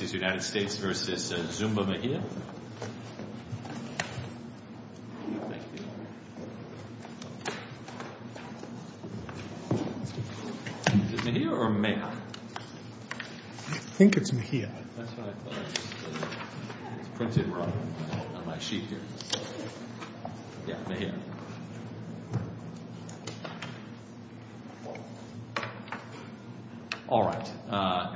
Mejia or Mejia? I think it's Mejia. That's what I thought. It's printed wrong on my sheet here. Yeah, Mejia. All right.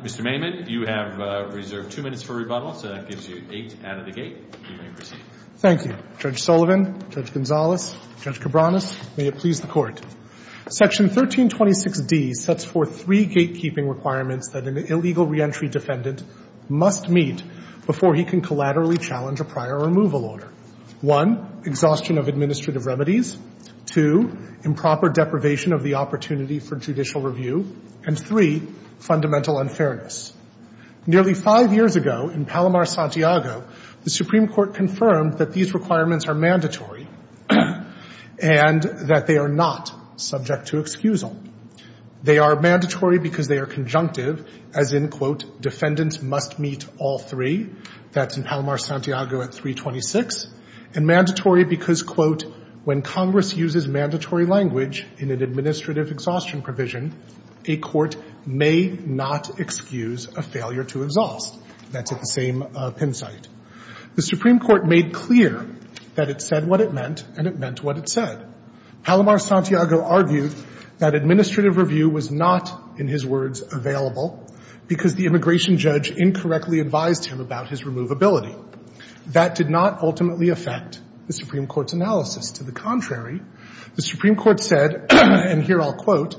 Mr. Maimon, you have reserved two minutes for rebuttal, so that gives you eight out of the gate. You may proceed. Thank you. Judge Sullivan, Judge Gonzales, Judge Cabranes, may it please the Court. Section 1326d sets forth three gatekeeping requirements that an illegal reentry defendant must meet before he can collaterally challenge a prior removal order. One, exhaustion of administrative remedies. Two, improper deprivation of the opportunity for judicial review. And three, fundamental unfairness. Nearly five years ago in Palomar, Santiago, the Supreme Court confirmed that these requirements are mandatory and that they are not subject to excusal. They are mandatory because they are conjunctive, as in, quote, defendant must meet all three. That's in Palomar, Santiago, at 326. And mandatory because, quote, when Congress uses mandatory language in an administrative exhaustion provision, a court may not excuse a failure to exhaust. That's at the same pin site. The Supreme Court made clear that it said what it meant, and it meant what it said. Palomar, Santiago, argued that administrative review was not, in his words, available because the immigration judge incorrectly advised him about his removability. That did not ultimately affect the Supreme Court's analysis. To the contrary, the Supreme Court said, and here I'll quote,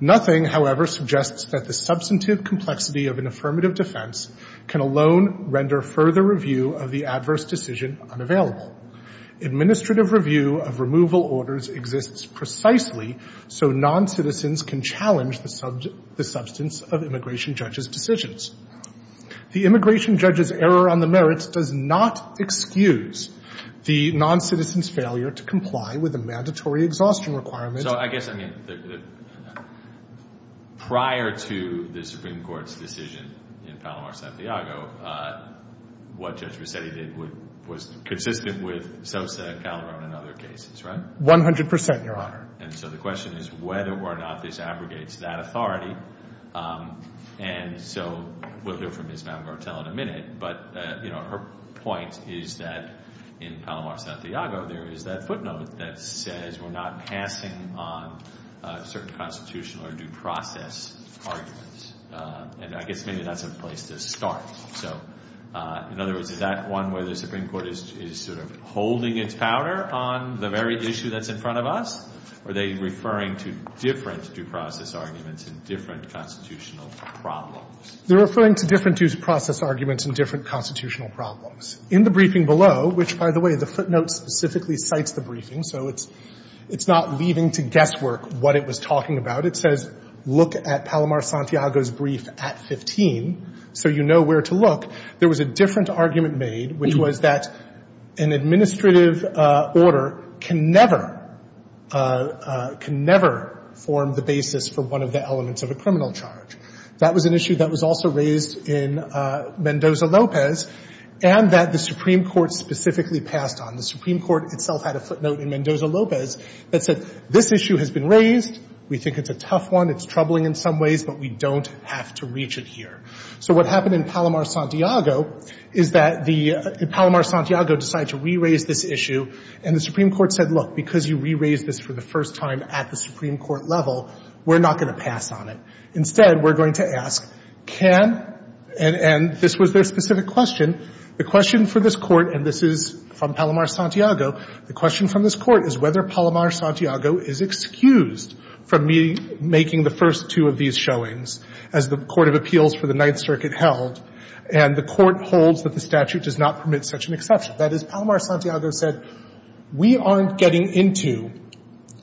nothing, however, suggests that the substantive complexity of an affirmative defense can alone render further review of the adverse decision unavailable. Administrative review of removal orders exists precisely so noncitizens can challenge the substance of immigration judges' decisions. The immigration judge's error on the merits does not excuse the noncitizen's failure to comply with a mandatory exhaustion requirement. So I guess, I mean, prior to the Supreme Court's decision in Palomar, Santiago, what Judge Rossetti did was consistent with Sosa, Calderon, and other cases, right? One hundred percent, Your Honor. And so the question is whether or not this abrogates that authority, and so we'll hear from Ms. Mamagartel in a minute, but, you know, her point is that in Palomar, Santiago, there is that footnote that says we're not passing on certain constitutional or due process arguments, and I guess maybe that's a place to start. So in other words, is that one where the Supreme Court is sort of holding its powder on the very issue that's in front of us, or are they referring to different due process arguments and different constitutional problems? They're referring to different due process arguments and different constitutional problems. In the briefing below, which, by the way, the footnote specifically cites the briefing, so it's not leaving to guesswork what it was talking about. It says, look at Palomar-Santiago's brief at 15, so you know where to look. There was a different argument made, which was that an administrative order can never, can never form the basis for one of the elements of a criminal charge. That was an issue that was also raised in Mendoza-Lopez, and that the Supreme Court itself had a footnote in Mendoza-Lopez that said this issue has been raised, we think it's a tough one, it's troubling in some ways, but we don't have to reach it here. So what happened in Palomar-Santiago is that Palomar-Santiago decided to re-raise this issue, and the Supreme Court said, look, because you re-raised this for the first time at the Supreme Court level, we're not going to pass on it. Instead, we're going to ask, can, and this was their specific question, the question for this Court, and this is from Palomar-Santiago, the question from this Court is whether Palomar-Santiago is excused from making the first two of these showings as the Court of Appeals for the Ninth Circuit held, and the Court holds that the statute does not permit such an exception. That is, Palomar-Santiago said, we aren't getting into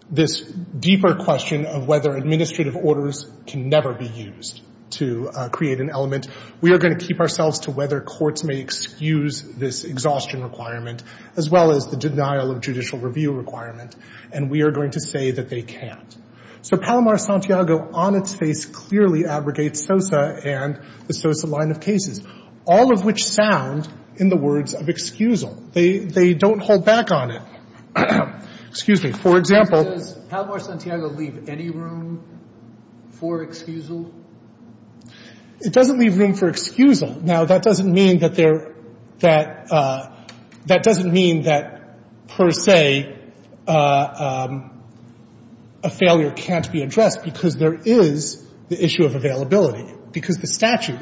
this deeper question of whether administrative orders can never be used to create an element. We are going to keep ourselves to whether courts may excuse this exhaustion requirement, as well as the denial of judicial review requirement, and we are going to say that they can't. So Palomar-Santiago on its face clearly abrogates SOSA and the SOSA line of cases, all of which sound in the words of excusal. They don't hold back on it. Excuse me. For example — Sotomayor, does Palomar-Santiago leave any room for excusal? It doesn't leave room for excusal. Now, that doesn't mean that there — that doesn't mean that, per se, a failure can't be addressed because there is the issue of availability, because the statute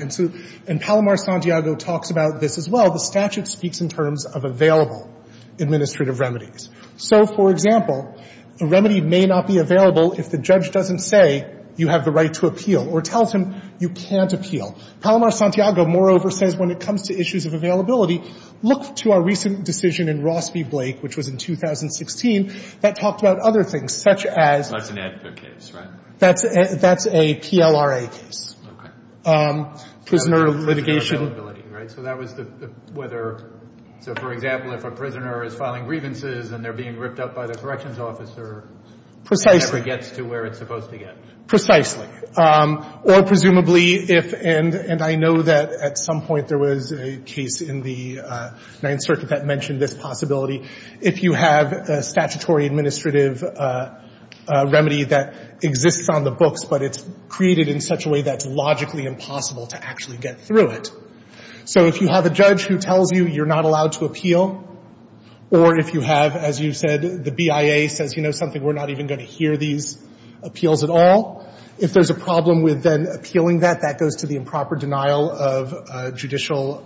— and Palomar-Santiago talks about this as well — the statute speaks in terms of available administrative remedies. So, for example, a remedy may not be available if the judge doesn't say you have the right to appeal or tells him you can't appeal. Palomar-Santiago, moreover, says when it comes to issues of availability, look to our recent decision in Ross v. Blake, which was in 2016, that talked about other things, such as — That's an AEDPA case, right? That's a PLRA case. Okay. Prisoner litigation — Prisoner availability, right? So that was the — whether — so, for example, if a prisoner is filing grievances and they're being ripped up by the corrections officer — Precisely. — it never gets to where it's supposed to get. Precisely. Or, presumably, if — and I know that at some point there was a case in the Ninth Circuit that mentioned this possibility — if you have a statutory administrative remedy that exists on the books, but it's created in such a way that it's logically impossible to actually get through it. So if you have a judge who tells you you're not allowed to appeal, or if you have, as you said, the BIA says, you know, something, we're not even going to hear these appeals at all, if there's a problem with then appealing that, that goes to the improper denial of judicial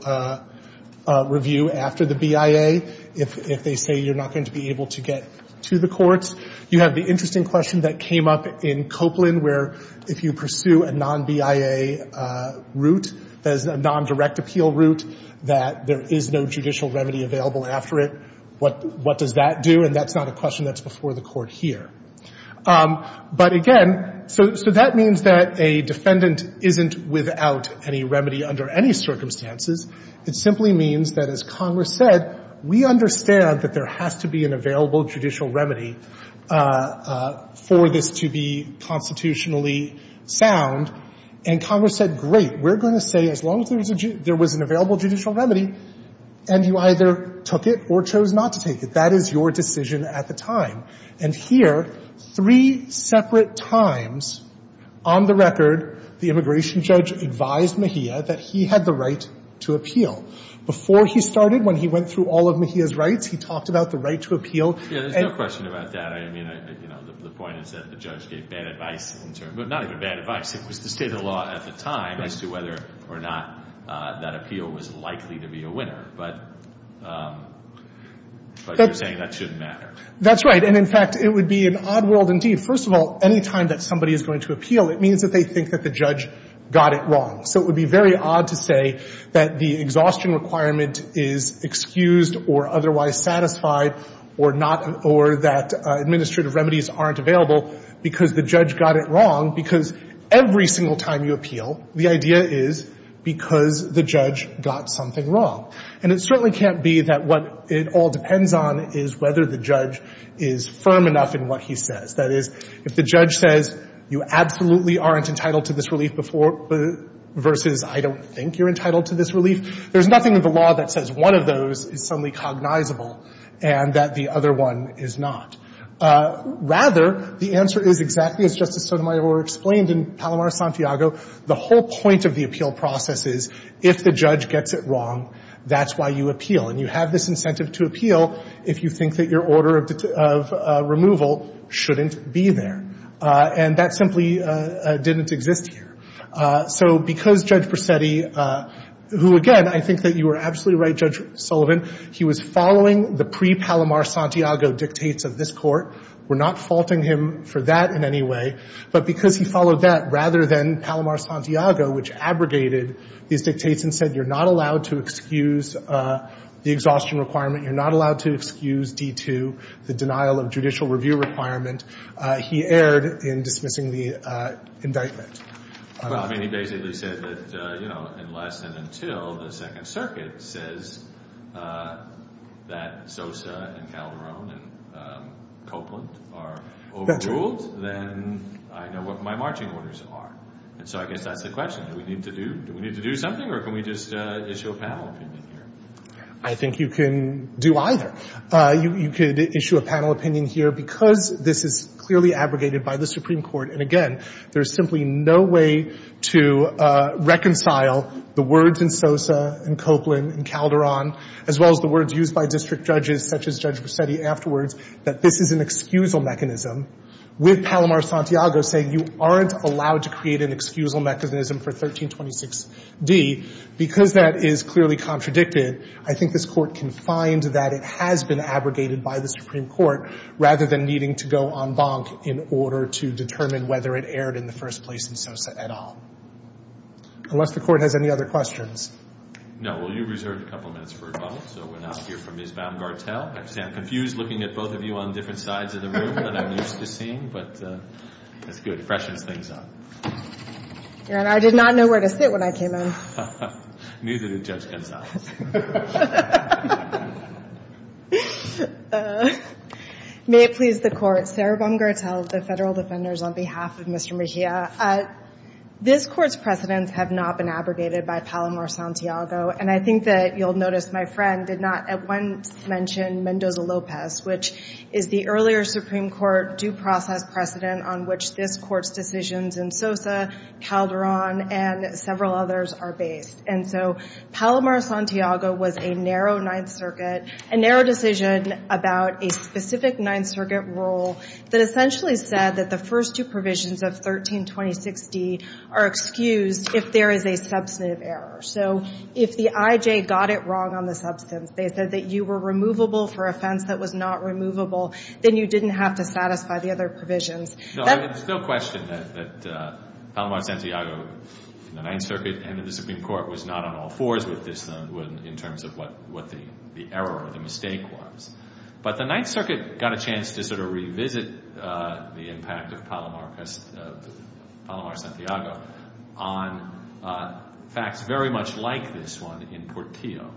review after the BIA if they say you're not going to be able to get to the courts. You have the interesting question that came up in Copeland, where if you pursue a non-BIA route that is a non-direct appeal route, that there is no judicial remedy available after it, what does that do? And that's not a question that's before the Court here. But, again, so that means that a defendant isn't without any remedy under any circumstances. It simply means that, as Congress said, we understand that there has to be an available judicial remedy for this to be constitutionally sound. And Congress said, great, we're going to say as long as there was an available judicial remedy, and you either took it or chose not to take it, that is your decision at the time. And here, three separate times on the record, the immigration judge advised Mejia that he had the right to appeal. Before he started, when he went through all of Mejia's rights, he talked about the right to appeal. Breyer. Yeah. There's no question about that. I mean, you know, the point is that the judge gave bad advice, but not even bad advice. It was the state of the law at the time as to whether or not that appeal was likely to be a winner. But you're saying that shouldn't matter. That's right. And, in fact, it would be an odd world indeed. First of all, any time that somebody is going to appeal, it means that they think that the judge got it wrong. So it would be very odd to say that the exhaustion requirement is excused or otherwise satisfied or that administrative remedies aren't available because the judge got it wrong. Because every single time you appeal, the idea is because the judge got something wrong. And it certainly can't be that what it all depends on is whether the judge is firm enough in what he says. That is, if the judge says you absolutely aren't entitled to this relief versus I don't think you're entitled to this relief, there's nothing in the law that says that one of those is suddenly cognizable and that the other one is not. Rather, the answer is exactly as Justice Sotomayor explained in Palomar-Santiago, the whole point of the appeal process is if the judge gets it wrong, that's why you appeal. And you have this incentive to appeal if you think that your order of removal shouldn't be there. And that simply didn't exist here. So because Judge Presetti, who, again, I think that you were absolutely right, Judge Sullivan, he was following the pre-Palomar-Santiago dictates of this court, we're not faulting him for that in any way, but because he followed that rather than Palomar-Santiago, which abrogated these dictates and said you're not allowed to excuse the exhaustion requirement, you're not allowed to excuse D-2, the denial of judicial review requirement, he erred in dismissing the indictment. Well, I mean, he basically said that, you know, unless and until the Second Circuit says that Sosa and Calderon and Copeland are overruled, then I know what my marching orders are. And so I guess that's the question. Do we need to do something or can we just issue a panel opinion here? I think you can do either. You could issue a panel opinion here because this is clearly abrogated by the Supreme Court, and again, there's simply no way to reconcile the words in Sosa and Copeland and Calderon, as well as the words used by district judges such as Judge Rossetti afterwards, that this is an excusal mechanism with Palomar-Santiago saying you aren't allowed to create an excusal mechanism for 1326D. Because that is clearly contradicted, I think this Court can find that it has been abrogated by the Supreme Court rather than needing to go en banc in order to determine whether it erred in the first place in Sosa at all. Unless the Court has any other questions. No. Well, you reserved a couple of minutes for a couple, so we'll now hear from Ms. Baumgartel. I understand I'm confused looking at both of you on different sides of the room than I'm used to seeing, but that's good. It freshens things up. And I did not know where to sit when I came in. Neither did Judge Gonzales. May it please the Court. Sarah Baumgartel, the Federal Defenders, on behalf of Mr. Mejia. This Court's precedents have not been abrogated by Palomar-Santiago. And I think that you'll notice my friend did not at once mention Mendoza-Lopez, which is the earlier Supreme Court due process precedent on which this Court's decisions in Sosa, Calderon, and several others are based. And so Palomar-Santiago was a narrow Ninth Circuit, a narrow decision about a specific Ninth Circuit rule that essentially said that the first two provisions of 1326D are excused if there is a substantive error. So if the IJ got it wrong on the substance, they said that you were removable for offense that was not removable, then you didn't have to satisfy the other provisions. There's no question that Palomar-Santiago in the Ninth Circuit and in the Supreme Court was not on all fours with this in terms of what the error or the mistake was. But the Ninth Circuit got a chance to sort of revisit the impact of Palomar-Santiago on facts very much like this one in Portillo.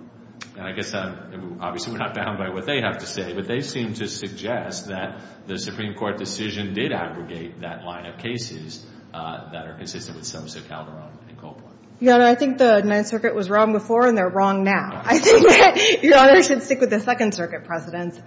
And I guess obviously we're not bound by what they have to say, but they seem to suggest that the Supreme Court decision did aggregate that line of cases that are consistent with Sosa, Calderon, and Coppola. Yeah, and I think the Ninth Circuit was wrong before and they're wrong now. I think that Your Honor should stick with the Second Circuit precedents.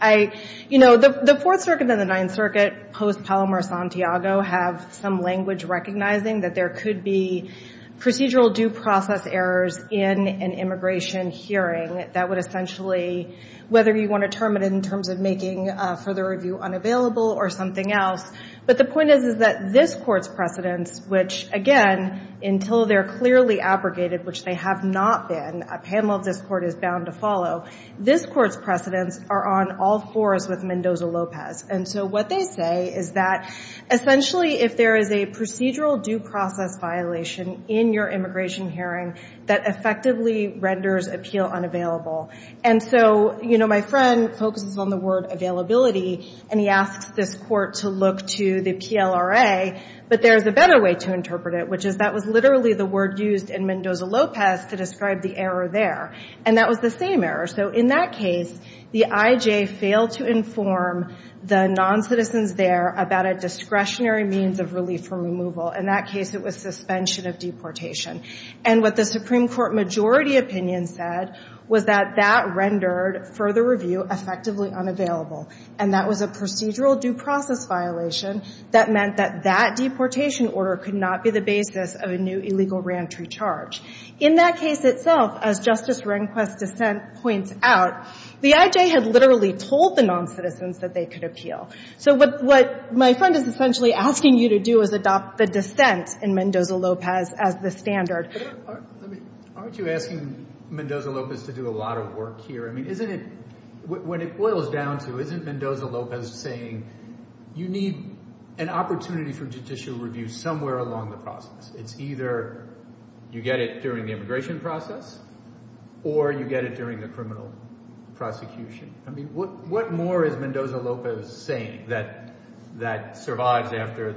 You know, the Fourth Circuit and the Ninth Circuit post-Palomar-Santiago have some language recognizing that there could be procedural due process errors in an immigration hearing that would essentially, whether you want to term it in terms of making further review unavailable or something else. But the point is that this Court's precedents, which again, until they're clearly abrogated, which they have not been, a panel of this Court is bound to follow, this Court's precedents are on all fours with Mendoza-Lopez. And so what they say is that essentially if there is a procedural due process violation in your immigration hearing that effectively renders appeal unavailable. And so, you know, my friend focuses on the word availability and he asks this Court to look to the PLRA, but there's a better way to interpret it, which is that was literally the word used in Mendoza-Lopez to describe the error there. And that was the same error. So in that case, the IJ failed to inform the noncitizens there about a discretionary means of relief from removal. In that case, it was suspension of deportation. And what the Supreme Court majority opinion said was that that rendered further review effectively unavailable. And that was a procedural due process violation that meant that that deportation order could not be the basis of a new illegal reentry charge. In that case itself, as Justice Rehnquist's dissent points out, the IJ had literally told the noncitizens that they could appeal. So what my friend is essentially asking you to do is adopt the dissent in Mendoza-Lopez as the standard. Aren't you asking Mendoza-Lopez to do a lot of work here? I mean, isn't it – when it boils down to, isn't Mendoza-Lopez saying you need an opportunity for judicial review somewhere along the process? It's either you get it during the immigration process or you get it during the criminal prosecution. I mean, what more is Mendoza-Lopez saying that survives after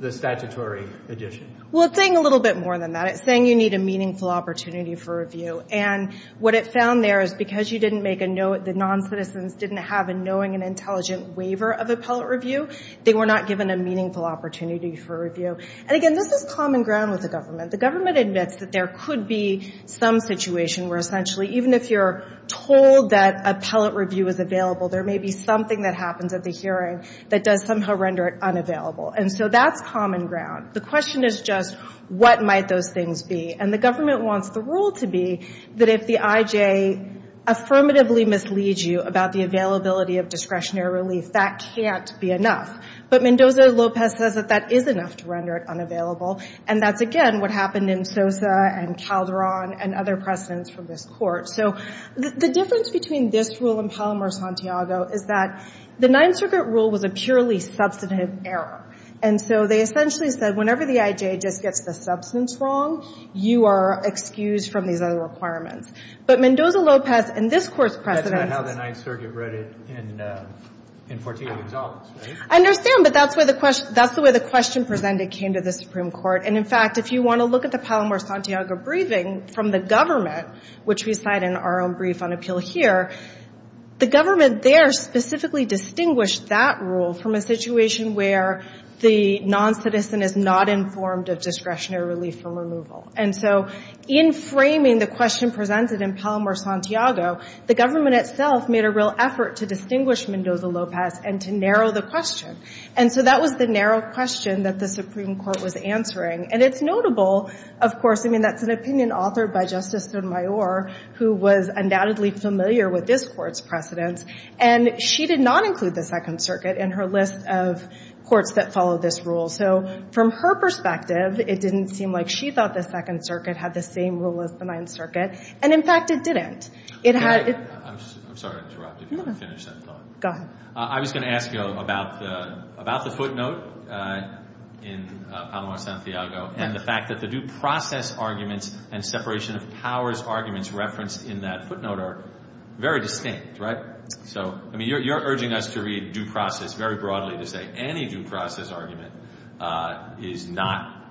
the statutory addition? Well, it's saying a little bit more than that. It's saying you need a meaningful opportunity for review. And what it found there is because you didn't make a note, the noncitizens didn't have a knowing and intelligent waiver of appellate review, they were not given a meaningful opportunity for review. And, again, this is common ground with the government. The government admits that there could be some situation where essentially even if you're told that appellate review is available, there may be something that happens at the hearing that does somehow render it unavailable. And so that's common ground. The question is just what might those things be. And the government wants the rule to be that if the IJ affirmatively misleads you about the availability of discretionary relief, that can't be enough. But Mendoza-Lopez says that that is enough to render it unavailable. And that's, again, what happened in Sosa and Calderon and other precedents from this Court. So the difference between this rule and Palomar-Santiago is that the Ninth Circuit rule was a purely substantive error. And so they essentially said whenever the IJ just gets the substance wrong, you are excused from these other requirements. But Mendoza-Lopez in this Court's precedents. That's not how the Ninth Circuit wrote it in 14 of the exaltments, right? I understand, but that's the way the question presented came to the Supreme Court. And, in fact, if you want to look at the Palomar-Santiago briefing from the government, which we cite in our own brief on appeal here, the government there specifically distinguished that rule from a situation where the noncitizen is not informed of discretionary relief from removal. And so in framing the question presented in Palomar-Santiago, the government itself made a real effort to distinguish Mendoza-Lopez and to narrow the question. And so that was the narrow question that the Supreme Court was answering. And it's notable, of course. I mean, that's an opinion authored by Justice Sotomayor, who was undoubtedly familiar with this Court's precedents. And she did not include the Second Circuit in her list of courts that follow this rule. So from her perspective, it didn't seem like she thought the Second Circuit had the same rule as the Ninth Circuit. And, in fact, it didn't. It had— I'm sorry to interrupt if you want to finish that thought. Go ahead. I was going to ask you about the footnote in Palomar-Santiago and the fact that the due process arguments and separation of powers arguments referenced in that footnote are very distinct, right? So, I mean, you're urging us to read due process very broadly to say any due process argument is not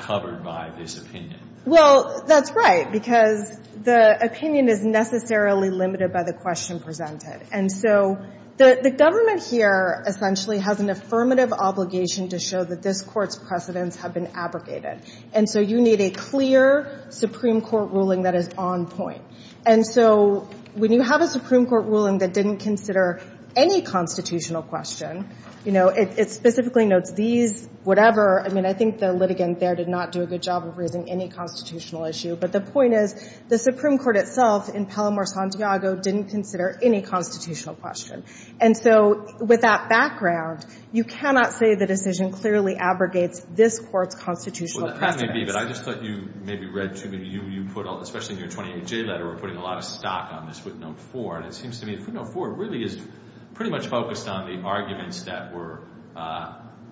covered by this opinion. Well, that's right, because the opinion is necessarily limited by the question presented. And so the government here essentially has an affirmative obligation to show that this Court's precedents have been abrogated. And so you need a clear Supreme Court ruling that is on point. And so when you have a Supreme Court ruling that didn't consider any constitutional question, you know, it specifically notes these, whatever— I mean, I think the litigant there did not do a good job of raising any constitutional issue. But the point is the Supreme Court itself in Palomar-Santiago didn't consider any constitutional question. And so with that background, you cannot say the decision clearly abrogates this Court's constitutional precedents. Well, that may be, but I just thought you maybe read too many— you put, especially in your 28-J letter, were putting a lot of stock on this footnote 4. And it seems to me the footnote 4 really is pretty much focused on the arguments that were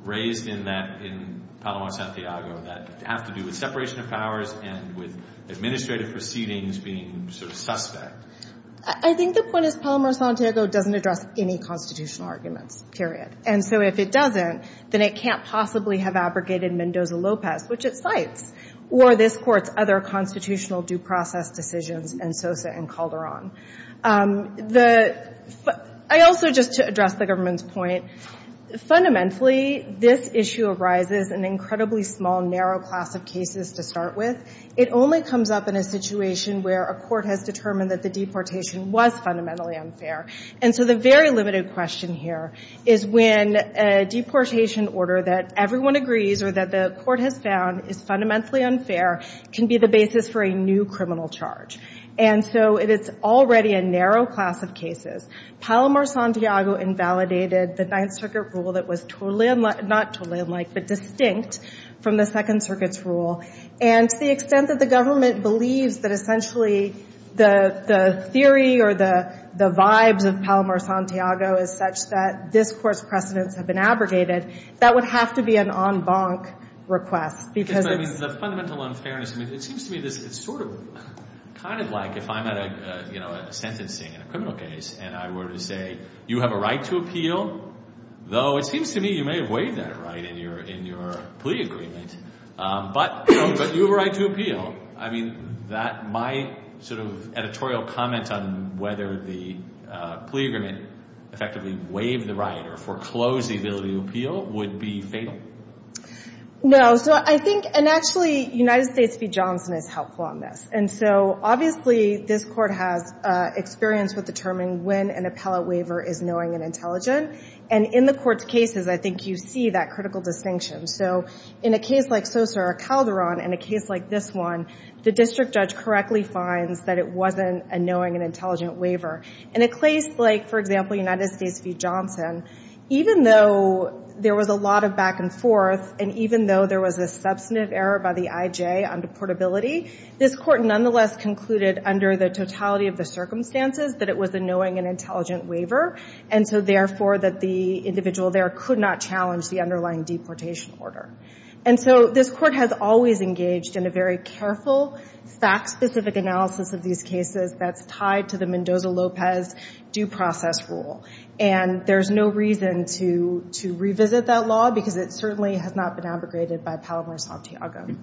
raised in that— in Palomar-Santiago that have to do with separation of powers and with administrative proceedings being sort of suspect. I think the point is Palomar-Santiago doesn't address any constitutional arguments, period. And so if it doesn't, then it can't possibly have abrogated Mendoza-Lopez, which it cites, or this Court's other constitutional due process decisions in Sosa and Calderon. The—I also, just to address the government's point, fundamentally, this issue arises in an incredibly small, narrow class of cases to start with. It only comes up in a situation where a court has determined that the deportation was fundamentally unfair. And so the very limited question here is when a deportation order that everyone agrees or that the court has found is fundamentally unfair can be the basis for a new criminal charge. And so it is already a narrow class of cases. Palomar-Santiago invalidated the Ninth Circuit rule that was totally unlike— To the extent that the government believes that essentially the theory or the vibes of Palomar-Santiago is such that this Court's precedents have been abrogated, that would have to be an en banc request because it's— But I mean, the fundamental unfairness, I mean, it seems to me it's sort of kind of like if I'm at a, you know, a sentencing in a criminal case and I were to say, you have a right to appeal, though it seems to me you may have waived that right in your plea agreement, but you have a right to appeal. I mean, that—my sort of editorial comment on whether the plea agreement effectively waived the right or foreclosed the ability to appeal would be fatal. No. So I think—and actually, United States v. Johnson is helpful on this. And so obviously this Court has experience with determining when an appellate waiver is knowing and intelligent. And in the Court's cases, I think you see that critical distinction. So in a case like Sosa or Calderon and a case like this one, the district judge correctly finds that it wasn't a knowing and intelligent waiver. In a case like, for example, United States v. Johnson, even though there was a lot of back and forth and even though there was a substantive error by the I.J. on deportability, this Court nonetheless concluded under the totality of the circumstances that it was a knowing and intelligent waiver, and so therefore that the individual there could not challenge the underlying deportation order. And so this Court has always engaged in a very careful, fact-specific analysis of these cases that's tied to the Mendoza-Lopez due process rule. And there's no reason to revisit that law because it certainly has not been abrogated by Palomar-Santiago. All right.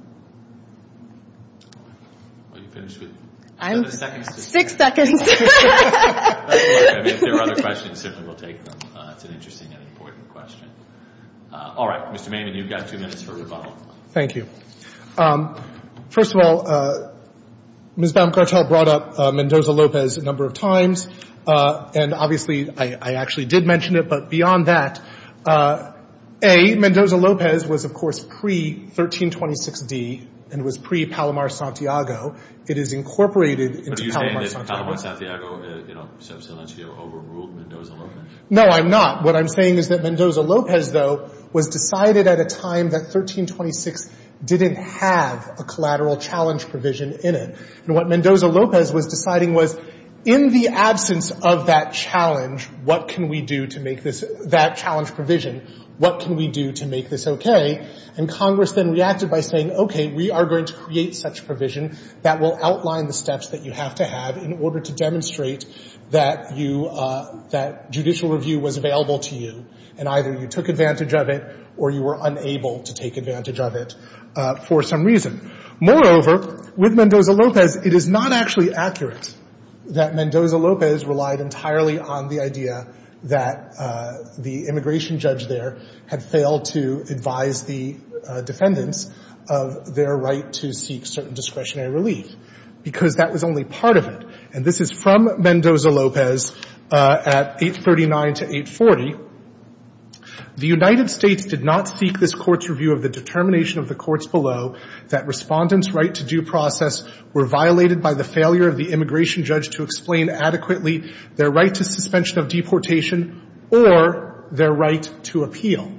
Are you finished with them? I'm six seconds. If there are other questions, simply we'll take them. It's an interesting and important question. All right. Mr. Maiman, you've got two minutes for a rebuttal. Thank you. First of all, Ms. Baumgartel brought up Mendoza-Lopez a number of times, and obviously I actually did mention it. But beyond that, A, Mendoza-Lopez was, of course, pre-1326d and was pre-Palomar-Santiago. It is incorporated into Palomar-Santiago. But are you saying that Palomar-Santiago, you know, sub silentio overruled Mendoza-Lopez? No, I'm not. What I'm saying is that Mendoza-Lopez, though, was decided at a time that 1326 didn't have a collateral challenge provision in it. And what Mendoza-Lopez was deciding was in the absence of that challenge, what can we do to make this, that challenge provision, what can we do to make this okay? And Congress then reacted by saying, okay, we are going to create such provision that will outline the steps that you have to have in order to demonstrate that you, that judicial review was available to you and either you took advantage of it or you were unable to take advantage of it for some reason. Moreover, with Mendoza-Lopez, because it is not actually accurate that Mendoza-Lopez relied entirely on the idea that the immigration judge there had failed to advise the defendants of their right to seek certain discretionary relief because that was only part of it. And this is from Mendoza-Lopez at 839 to 840. The United States did not seek this court's review of the determination of the courts below that Respondent's right to due process were violated by the failure of the immigration judge to explain adequately their right to suspension of deportation or their right to appeal.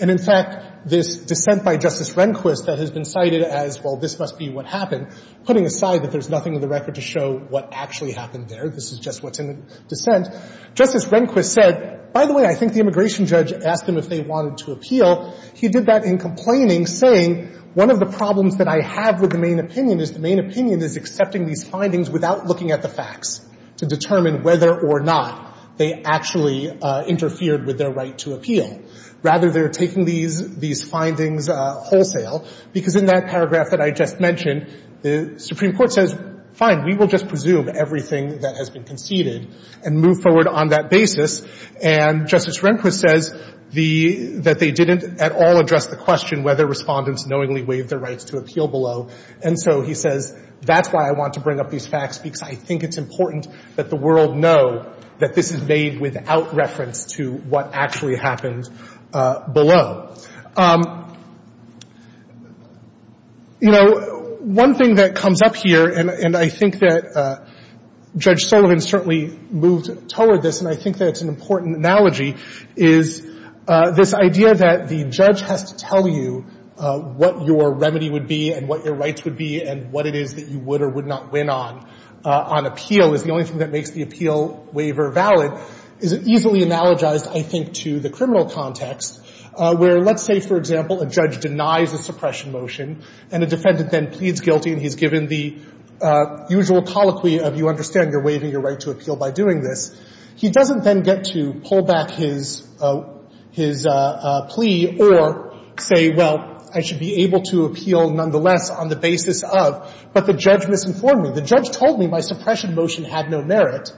And in fact, this dissent by Justice Rehnquist that has been cited as, well, this must be what happened, putting aside that there's nothing in the record to show what actually happened there, this is just what's in dissent, Justice Rehnquist said, by the way, I think the immigration judge asked them if they wanted to appeal. He did that in complaining, saying one of the problems that I have with the main opinion is the main opinion is accepting these findings without looking at the facts to determine whether or not they actually interfered with their right to appeal. Rather, they're taking these findings wholesale because in that paragraph that I just mentioned, the Supreme Court says, fine, we will just presume everything that has been conceded and move forward on that basis. And Justice Rehnquist says the — that they didn't at all address the question whether Respondents knowingly waived their rights to appeal below. And so he says, that's why I want to bring up these facts, because I think it's important that the world know that this is made without reference to what actually happened below. You know, one thing that comes up here, and I think that Judge Sullivan certainly moved toward this, and I think that it's an important analogy, is this idea that the judge has to tell you what your remedy would be and what your rights would be and what it is that you would or would not win on, on appeal, is the only thing that makes the appeal waiver valid, is easily analogized, I think, to the criminal context where, let's say, for example, a judge denies a suppression motion, and a judge pleads guilty and he's given the usual colloquy of, you understand, you're waiving your right to appeal by doing this, he doesn't then get to pull back his plea or say, well, I should be able to appeal nonetheless on the basis of, but the judge misinformed me. The judge told me my suppression motion had no merit,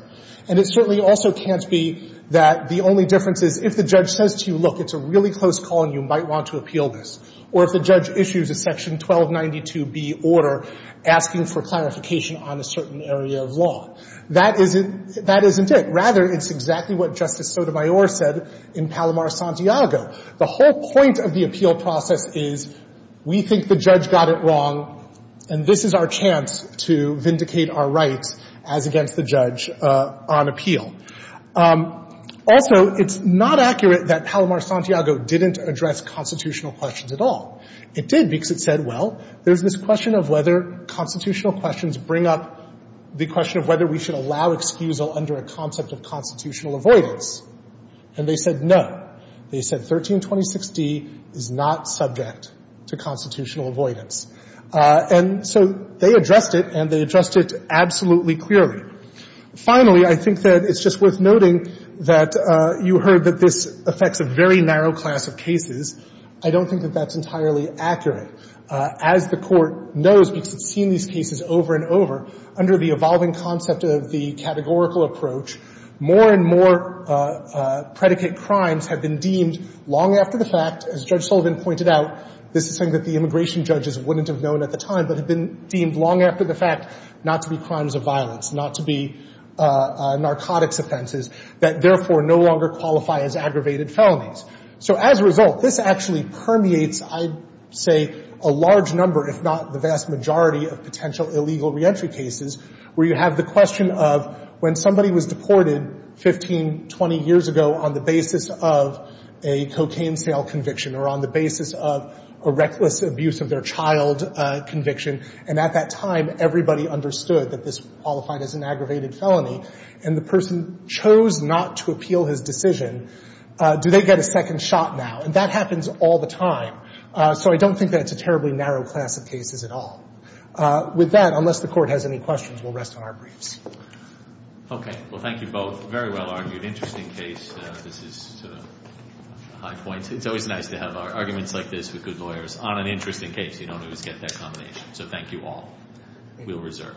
and it certainly also can't be that the only difference is if the judge says to you, look, it's a really close call and you might want to appeal this, or if the judge issues a section 1292B order asking for clarification on a certain area of law. That isn't it. Rather, it's exactly what Justice Sotomayor said in Palomar-Santiago. The whole point of the appeal process is we think the judge got it wrong, and this is our chance to vindicate our rights as against the judge on appeal. Also, it's not accurate that Palomar-Santiago didn't address constitutional questions at all. It did because it said, well, there's this question of whether constitutional questions bring up the question of whether we should allow excusal under a concept of constitutional avoidance. And they said no. They said 1326d is not subject to constitutional avoidance. And so they addressed it, and they addressed it absolutely clearly. Finally, I think that it's just worth noting that you heard that this affects a very narrow class of cases. I don't think that that's entirely accurate. As the Court knows, because it's seen these cases over and over, under the evolving concept of the categorical approach, more and more predicate crimes have been deemed long after the fact, as Judge Sullivan pointed out, this is something that the immigration judges wouldn't have known at the time, but have been deemed long after the fact not to be crimes of violence, not to be narcotics offenses that, therefore, no longer qualify as aggravated felonies. So as a result, this actually permeates, I'd say, a large number, if not the vast majority, of potential illegal reentry cases where you have the question of when somebody was deported 15, 20 years ago on the basis of a cocaine sale conviction or on the basis of a reckless abuse of their child conviction, and at that time everybody understood that this qualified as an aggravated felony, and the person chose not to appeal his decision, do they get a second shot now? And that happens all the time. So I don't think that it's a terribly narrow class of cases at all. With that, unless the Court has any questions, we'll rest on our briefs. Well, thank you both. Very well argued. Interesting case. This is to the high points. It's always nice to have arguments like this with good lawyers on an interesting case. You don't always get that combination. So thank you all. We'll reserve.